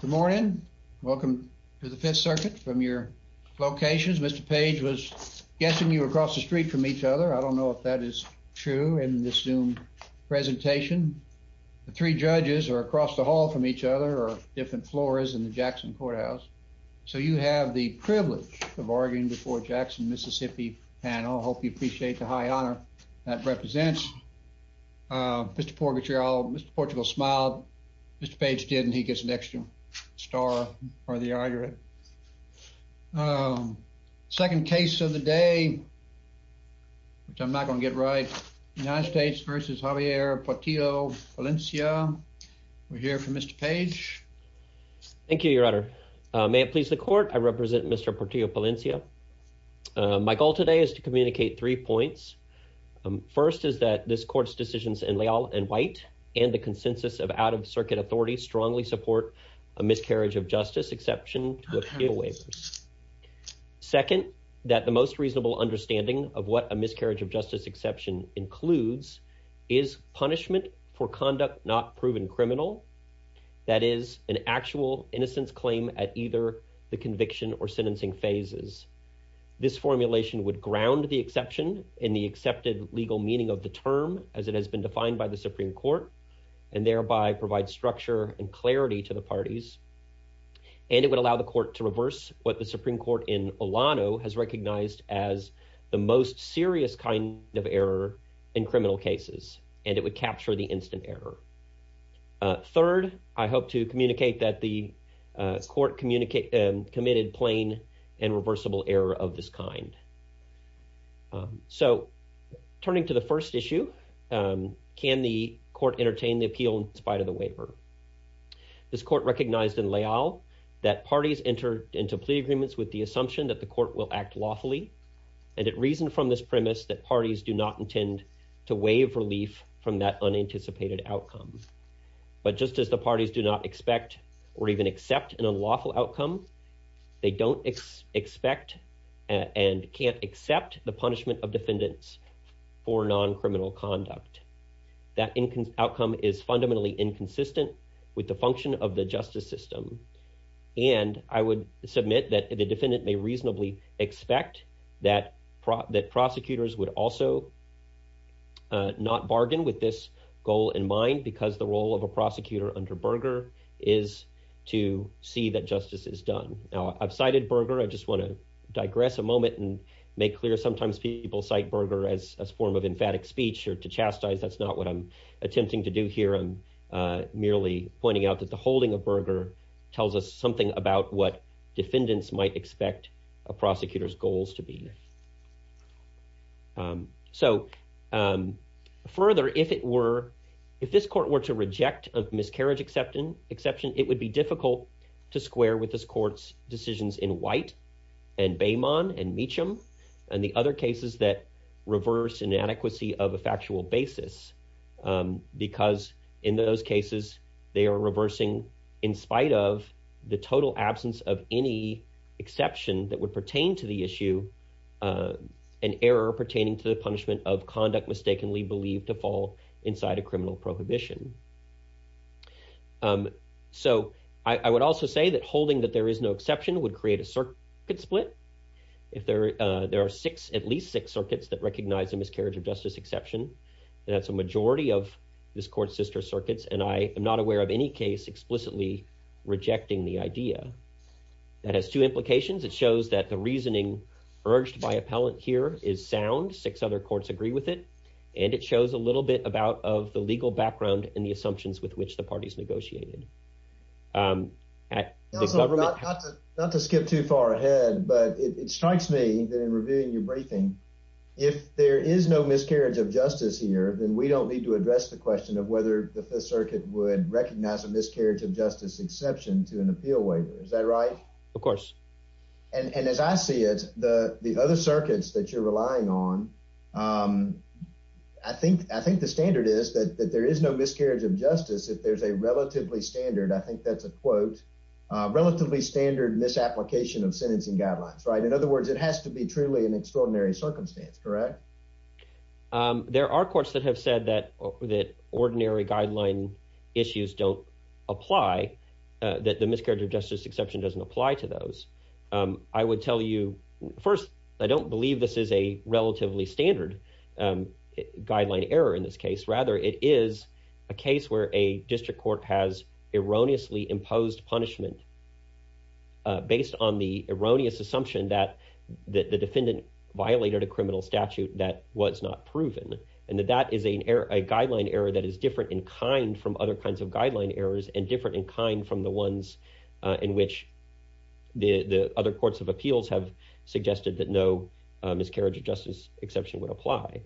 Good morning. Welcome to the Fifth Circuit from your locations. Mr. Page was guessing you were across the street from each other. I don't know if that is true in this Zoom presentation. The three judges are across the hall from each other or different floors in the Jackson Courthouse. So you have the privilege of arguing before Jackson, Mississippi panel. I hope you appreciate the high honor that represents. Mr. Portillo smiled. Mr. Page didn't. He gets an extra star for the argument. Second case of the day, which I'm not going to get right, United States v. Javier Portillo-Palencia. We're here for Mr. Page. Thank you, your honor. May it please the court, I represent Mr. Portillo-Palencia. My goal today is to communicate three points. First is that this court's decisions in Leal and White and the consensus of out-of-circuit authority strongly support a miscarriage of justice exception. Second, that the most reasonable understanding of what a miscarriage of justice exception includes is punishment for conduct not proven criminal. That is an actual innocence claim at either the conviction or sentencing phases. This formulation would ground the exception in the accepted legal meaning of the term as it has been defined by the Supreme Court and thereby provide structure and clarity to the parties. And it would allow the court to reverse what the Supreme Court in Olano has recognized as the most serious kind of error in criminal cases. And it would capture the instant error. Third, I hope to communicate that the court committed plain and reversible error of this kind. So turning to the first issue, can the court entertain the appeal in spite of the waiver? This court recognized in Leal that parties entered into plea agreements with the assumption that the court will act lawfully. And it reasoned from this premise that parties do not intend to waive relief from that unanticipated outcome. But just as the parties do not expect or even accept an unlawful outcome, they don't expect and can't accept the punishment of defendants for non-criminal conduct. That outcome is fundamentally inconsistent with the function of the justice system. And I would submit that the defendant may reasonably expect that prosecutors would also not bargain with this goal in mind because the role of a prosecutor under Berger is to see that justice is done. Now, I've cited Berger. I just want to digress a moment and make clear sometimes people cite Berger as a form of emphatic speech or to chastise. That's not what I'm attempting to do here. I'm merely pointing out that the holding of Berger tells us something about what defendants might expect a prosecutor's goals to be. So further, if this court were to exception, it would be difficult to square with this court's decisions in White and Baymon and Meacham and the other cases that reverse inadequacy of a factual basis. Because in those cases, they are reversing in spite of the total absence of any exception that would pertain to the issue an error pertaining to the punishment of conduct mistakenly believed to fall inside a criminal prohibition. So I would also say that holding that there is no exception would create a circuit split. If there are at least six circuits that recognize a miscarriage of justice exception, that's a majority of this court's sister circuits. And I am not aware of any case explicitly rejecting the idea. That has two implications. It shows that the reasoning urged by appellant here is sound. Six other courts agree with it. And it shows a little bit about of the legal background and the assumptions with which the parties negotiated. Not to skip too far ahead, but it strikes me that in reviewing your briefing, if there is no miscarriage of justice here, then we don't need to address the question of whether the Fifth Circuit would recognize a miscarriage of justice exception to an appeal waiver. Is that right? Of course. And as I see it, the other circuits that you're relying on, I think the standard is that there is no miscarriage of justice. If there's a relatively standard, I think that's a quote, relatively standard misapplication of sentencing guidelines, right? In other words, it has to be truly an extraordinary circumstance, correct? There are courts that have said that that ordinary guideline issues don't apply, that the miscarriage of justice exception doesn't apply to those. I would tell you first, I don't believe this is a relatively standard guideline error in this case. Rather, it is a case where a district court has erroneously imposed punishment based on the erroneous assumption that the defendant violated a criminal statute that was not proven. And that that is a guideline error that is different in kind from other kinds of guideline errors and different in kind from the ones in which the other courts of appeals have suggested that no miscarriage of justice exception would apply.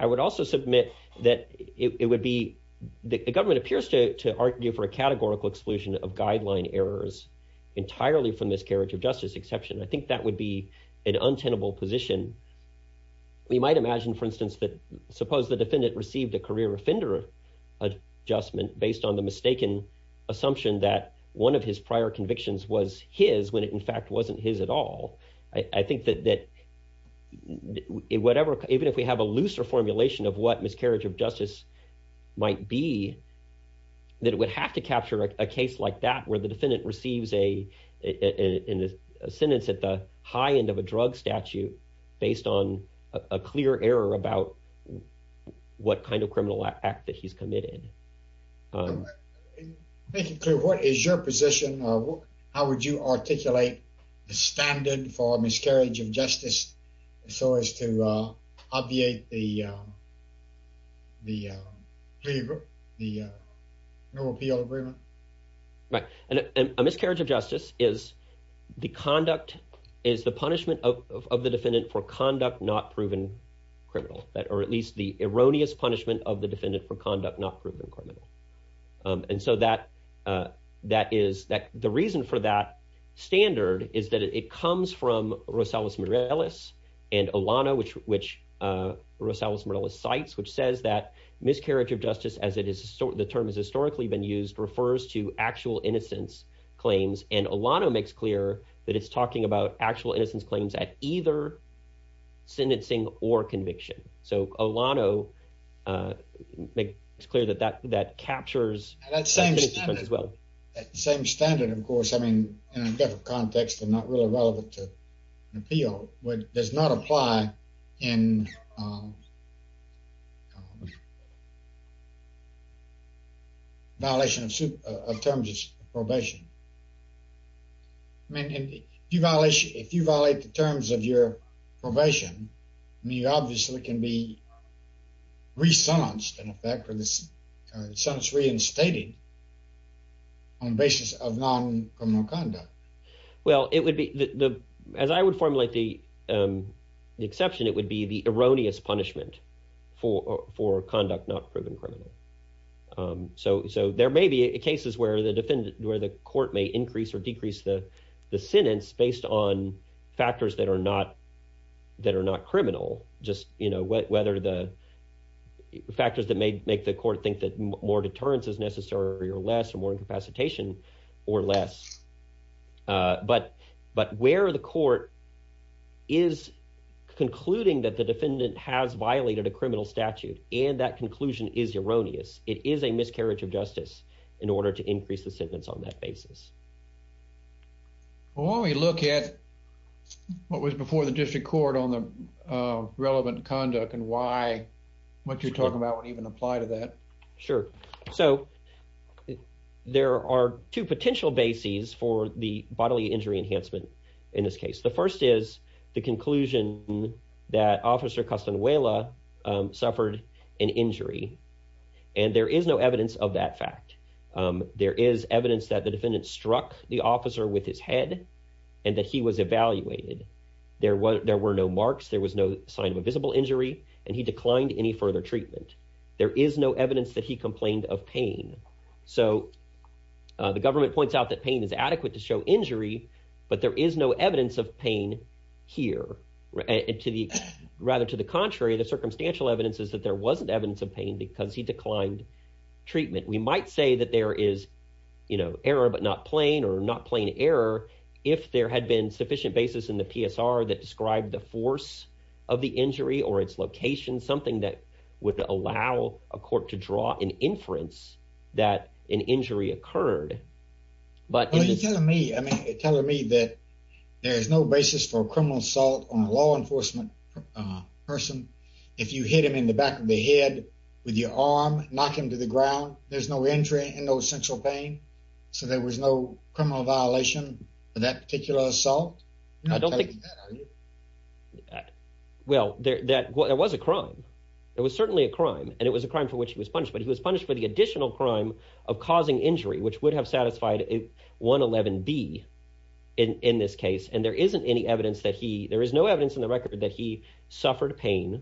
I would also submit that it would be, the government appears to argue for a categorical exclusion of guideline errors entirely from miscarriage of justice exception. I think that would be an untenable position. We might imagine, for instance, that suppose the defendant received a career offender adjustment based on the mistaken assumption that one of his prior convictions was his when it in his at all. I think that whatever, even if we have a looser formulation of what miscarriage of justice might be, that it would have to capture a case like that where the defendant receives a sentence at the high end of a drug statute based on a clear error about what kind of criminal act that he's committed. I'm making clear, what is your position? How would you articulate the standard for miscarriage of justice so as to obviate the no appeal agreement? Right. And a miscarriage of justice is the conduct, is the punishment of the defendant for conduct not proven criminal, or at least the erroneous punishment of the defendant for being criminal. And so the reason for that standard is that it comes from Rosales Mireles and Olano, which Rosales Mireles cites, which says that miscarriage of justice, as the term has historically been used, refers to actual innocence claims. And Olano makes clear that it's talking about actual innocence claims at either sentencing or conviction. So Olano makes it clear that that captures the difference as well. That same standard, of course, I mean, in a different context and not really relevant to appeal, does not apply in violation of terms of probation. I mean, if you violate the terms of your probation, you obviously can be re-sentenced, in effect, or the sentence reinstated on the basis of non-criminal conduct. Well, it would be, as I would formulate the exception, it would be the erroneous punishment for conduct not proven criminal. So there may be cases where the defendant, where the court may increase or decrease the sentence based on factors that are not criminal, just whether the factors that may make the court think that more deterrence is necessary or less or more incapacitation or less. But where the court is concluding that the defendant has violated a criminal statute and that conclusion is erroneous, it is a miscarriage of justice in order to make the case. Well, why don't we look at what was before the district court on the relevant conduct and why what you're talking about would even apply to that? Sure. So there are two potential bases for the bodily injury enhancement in this case. The first is the conclusion that Officer Castanuela suffered an injury, and there is no evidence that the defendant struck the officer with his head and that he was evaluated. There were no marks, there was no sign of a visible injury, and he declined any further treatment. There is no evidence that he complained of pain. So the government points out that pain is adequate to show injury, but there is no evidence of pain here. Rather, to the contrary, the circumstantial evidence is that there wasn't evidence of pain because he declined treatment. We might say that there is, you know, error but not plain or not plain error if there had been sufficient basis in the PSR that described the force of the injury or its location, something that would allow a court to draw an inference that an injury occurred. Well, you're telling me, I mean, you're telling me that there is no basis for a criminal assault on a law enforcement person if you hit him in the back of the head with your arm, knock him to the injury and no central pain, so there was no criminal violation of that particular assault? Well, there was a crime. It was certainly a crime, and it was a crime for which he was punished, but he was punished for the additional crime of causing injury, which would have satisfied 111B in this case, and there isn't any evidence that he, there is no evidence in the record that he suffered pain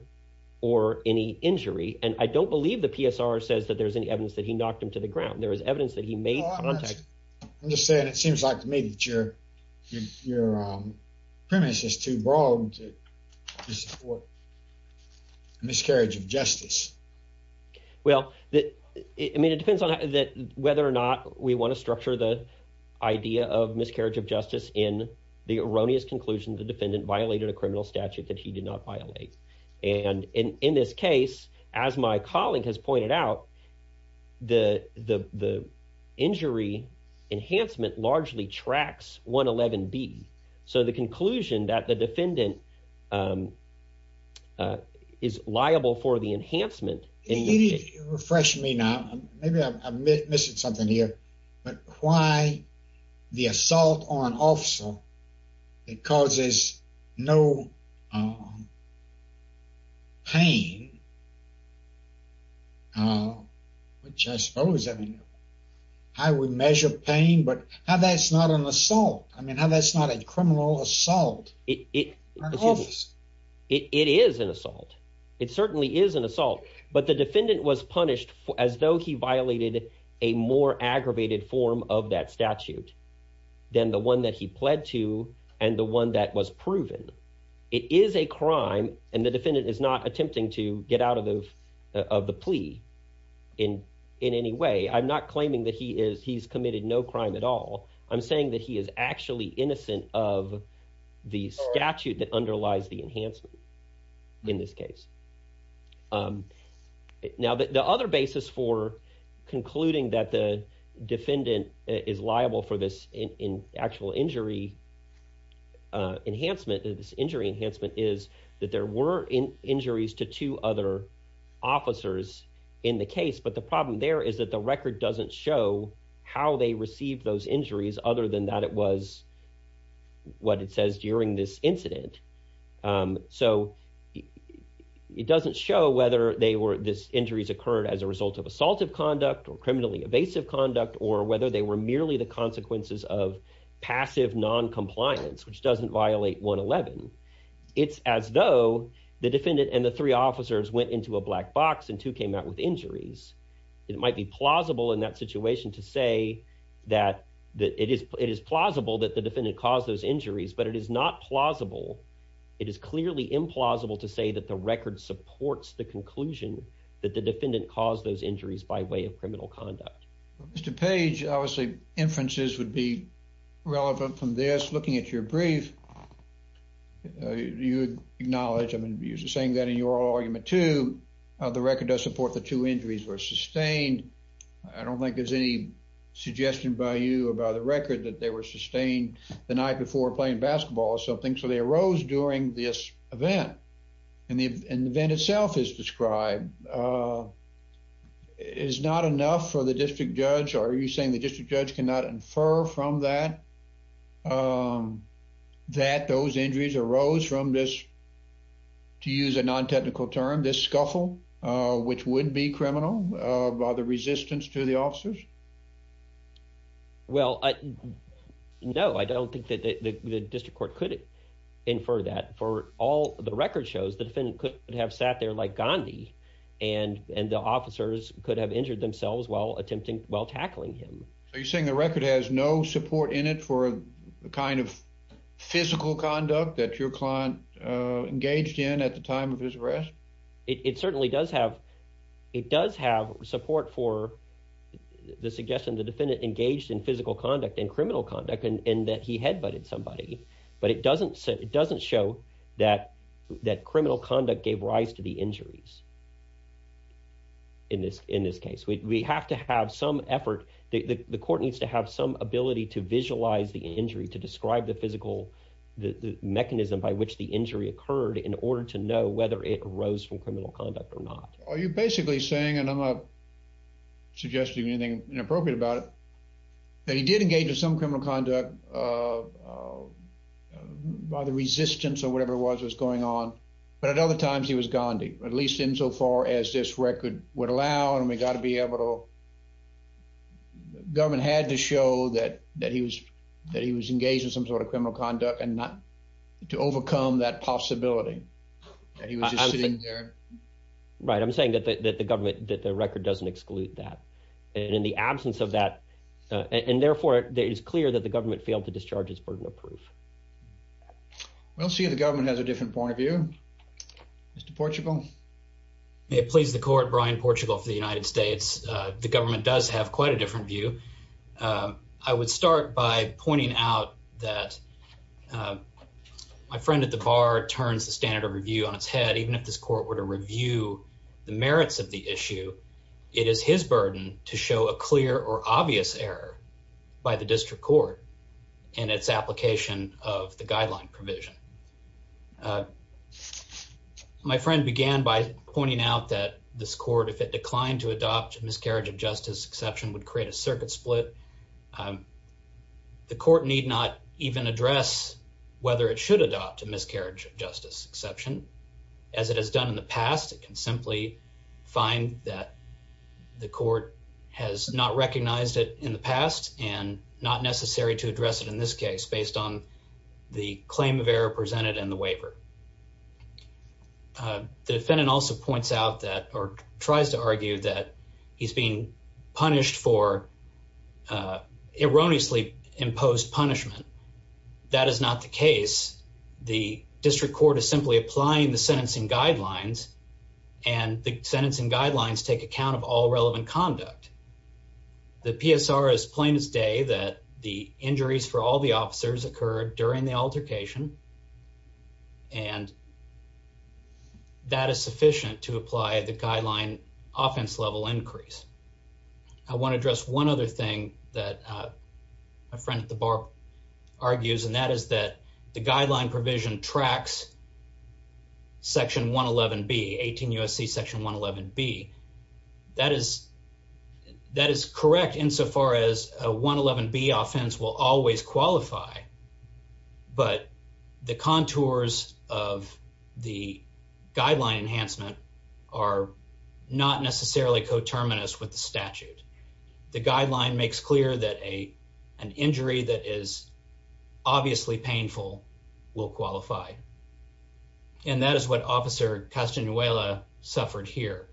or any injury, and I don't believe the PSR says that there's any evidence that he knocked him to the ground. There is evidence that he made contact. I'm just saying it seems like to me that your premise is too broad to support miscarriage of justice. Well, I mean, it depends on whether or not we want to structure the idea of miscarriage of justice in the erroneous conclusion the defendant violated a criminal statute that he did not violate, and in this case, as my colleague has pointed out, the injury enhancement largely tracks 111B, so the conclusion that the defendant is liable for the enhancement. Refresh me now. Maybe I'm missing something here, but why the assault on an officer that causes no pain, which I suppose, I mean, I would measure pain, but how that's not an assault. I mean, how that's not a criminal assault. It is an assault. It certainly is an assault, but the defendant was punished as though he violated a more aggravated form of that statute than the one that he pled to and the one that was proven. It is a crime, and the defendant is not attempting to get out of the plea in any way. I'm not claiming that he's committed no crime at all. I'm saying that he is actually innocent of the statute that underlies the enhancement in this case. Now, the other basis for concluding that the defendant is liable for this actual injury enhancement, this injury enhancement, is that there were injuries to two other officers in the case, but the problem there is that the record doesn't show how they received those injuries other than that it was what it says during this incident. So it doesn't show whether they were, these injuries occurred as a result of assaultive conduct or criminally evasive conduct or whether they were merely the consequences of passive noncompliance, which doesn't violate 111. It's as though the defendant and the three officers went into a black box and two came out with injuries. It might be plausible in that situation to say that it is plausible that the defendant caused those injuries, but it is not plausible. It is clearly implausible to say that the record supports the conclusion that the defendant caused those injuries by way of criminal conduct. Mr. Page, obviously, inferences would be relevant from this. Looking at your brief, you acknowledge, I mean, you're saying that in your argument, too, the record does support the two injuries were sustained. I don't think there's any suggestion by you about the record that they were sustained the night before playing basketball or something. So they arose during this event, and the event itself is described. It is not enough for the district judge, or are you saying the district judge cannot infer from that that those injuries arose from this, to use a non-technical term, this scuffle, which would be criminal by the resistance to the officers? Well, no, I don't think that the district court could infer that. For all the record shows, the defendant could have sat there like Gandhi, and the officers could have injured themselves while tackling him. So you're saying the record has no support in it for the kind of physical conduct that your client engaged in at the time of his arrest? It certainly does have support for the suggestion the defendant engaged in physical conduct and criminal conduct, and that he head-butted somebody. But it doesn't show that criminal conduct gave rise to the injuries in this case. We have to have some effort. The court needs to have some ability to visualize the injury, to describe the physical mechanism by which the injury occurred in order to know whether it arose from criminal conduct or not. Are you basically saying, and I'm not suggesting anything inappropriate about it, that he did other times he was Gandhi, at least insofar as this record would allow, and we got to be able to... Government had to show that he was engaged in some sort of criminal conduct and not to overcome that possibility that he was just sitting there. Right, I'm saying that the government, that the record doesn't exclude that. And in the absence of that, and therefore it is clear that the government failed to discharge his burden of proof. We'll see if the government has a different point of view. Mr. Portugal. May it please the court, Brian Portugal for the United States. The government does have quite a different view. I would start by pointing out that my friend at the bar turns the standard of review on its head. Even if this court were to review the merits of the issue, it is his burden to show a misapplication of the guideline provision. My friend began by pointing out that this court, if it declined to adopt a miscarriage of justice exception, would create a circuit split. The court need not even address whether it should adopt a miscarriage of justice exception. As it has done in the past, it can simply find that the court has not recognized it in the past and not necessary to address it in this case based on the claim of error presented in the waiver. The defendant also points out that or tries to argue that he's being punished for erroneously imposed punishment. That is not the case. The district court is simply applying the sentencing guidelines and the sentencing guidelines take account of all relevant conduct. The PSR is plain as day that the injuries for all the officers occurred during the altercation and that is sufficient to apply the guideline offense level increase. I want to address one other thing that my friend at the bar argues and that is that the guideline provision tracks section 111B, 18 U.S.C. section 111B. That is correct insofar as a 111B offense will always qualify, but the contours of the guideline enhancement are not necessarily coterminous with the statute. The guideline makes clear that an injury that is obviously painful will qualify. That is what officer Castanuela suffered here.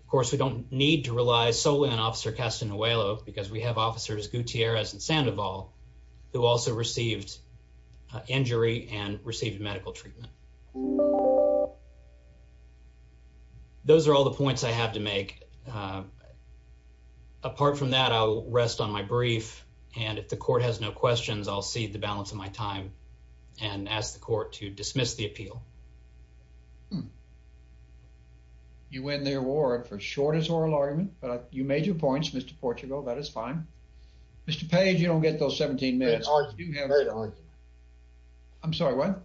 Of course, we don't need to rely solely on officer Castanuela because we have officers Gutierrez and Sandoval who also received injury and received medical treatment. Those are all the points I have to make. Apart from that, I'll rest on my brief and if the court has no questions, I'll cede the balance of my time and ask the court to dismiss the appeal. You win the award for shortest oral argument, but you made your points, Mr. Portugal. That is fine. Mr. Page, you don't get those 17 minutes. I'm sorry, what?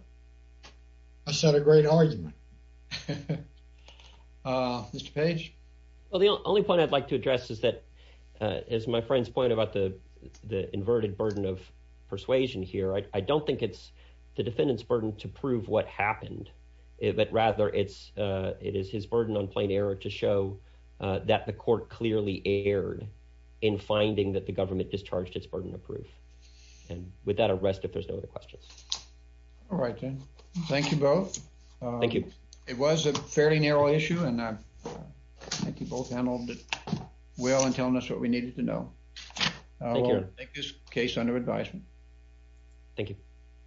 I said a great argument. Mr. Page? Well, the only point I'd like to address is that, as my friend's point about the inverted burden of persuasion here, I don't think it's the defendant's burden to prove what happened, but rather it is his burden on plain error to show that the court clearly erred in finding that the government discharged its burden of proof. With that, I'll rest if there's no other questions. All right, then. Thank you both. Thank you. It was a fairly narrow issue and I think you both handled it well in telling us what we needed to know. I'll take this case under advisement. Thank you.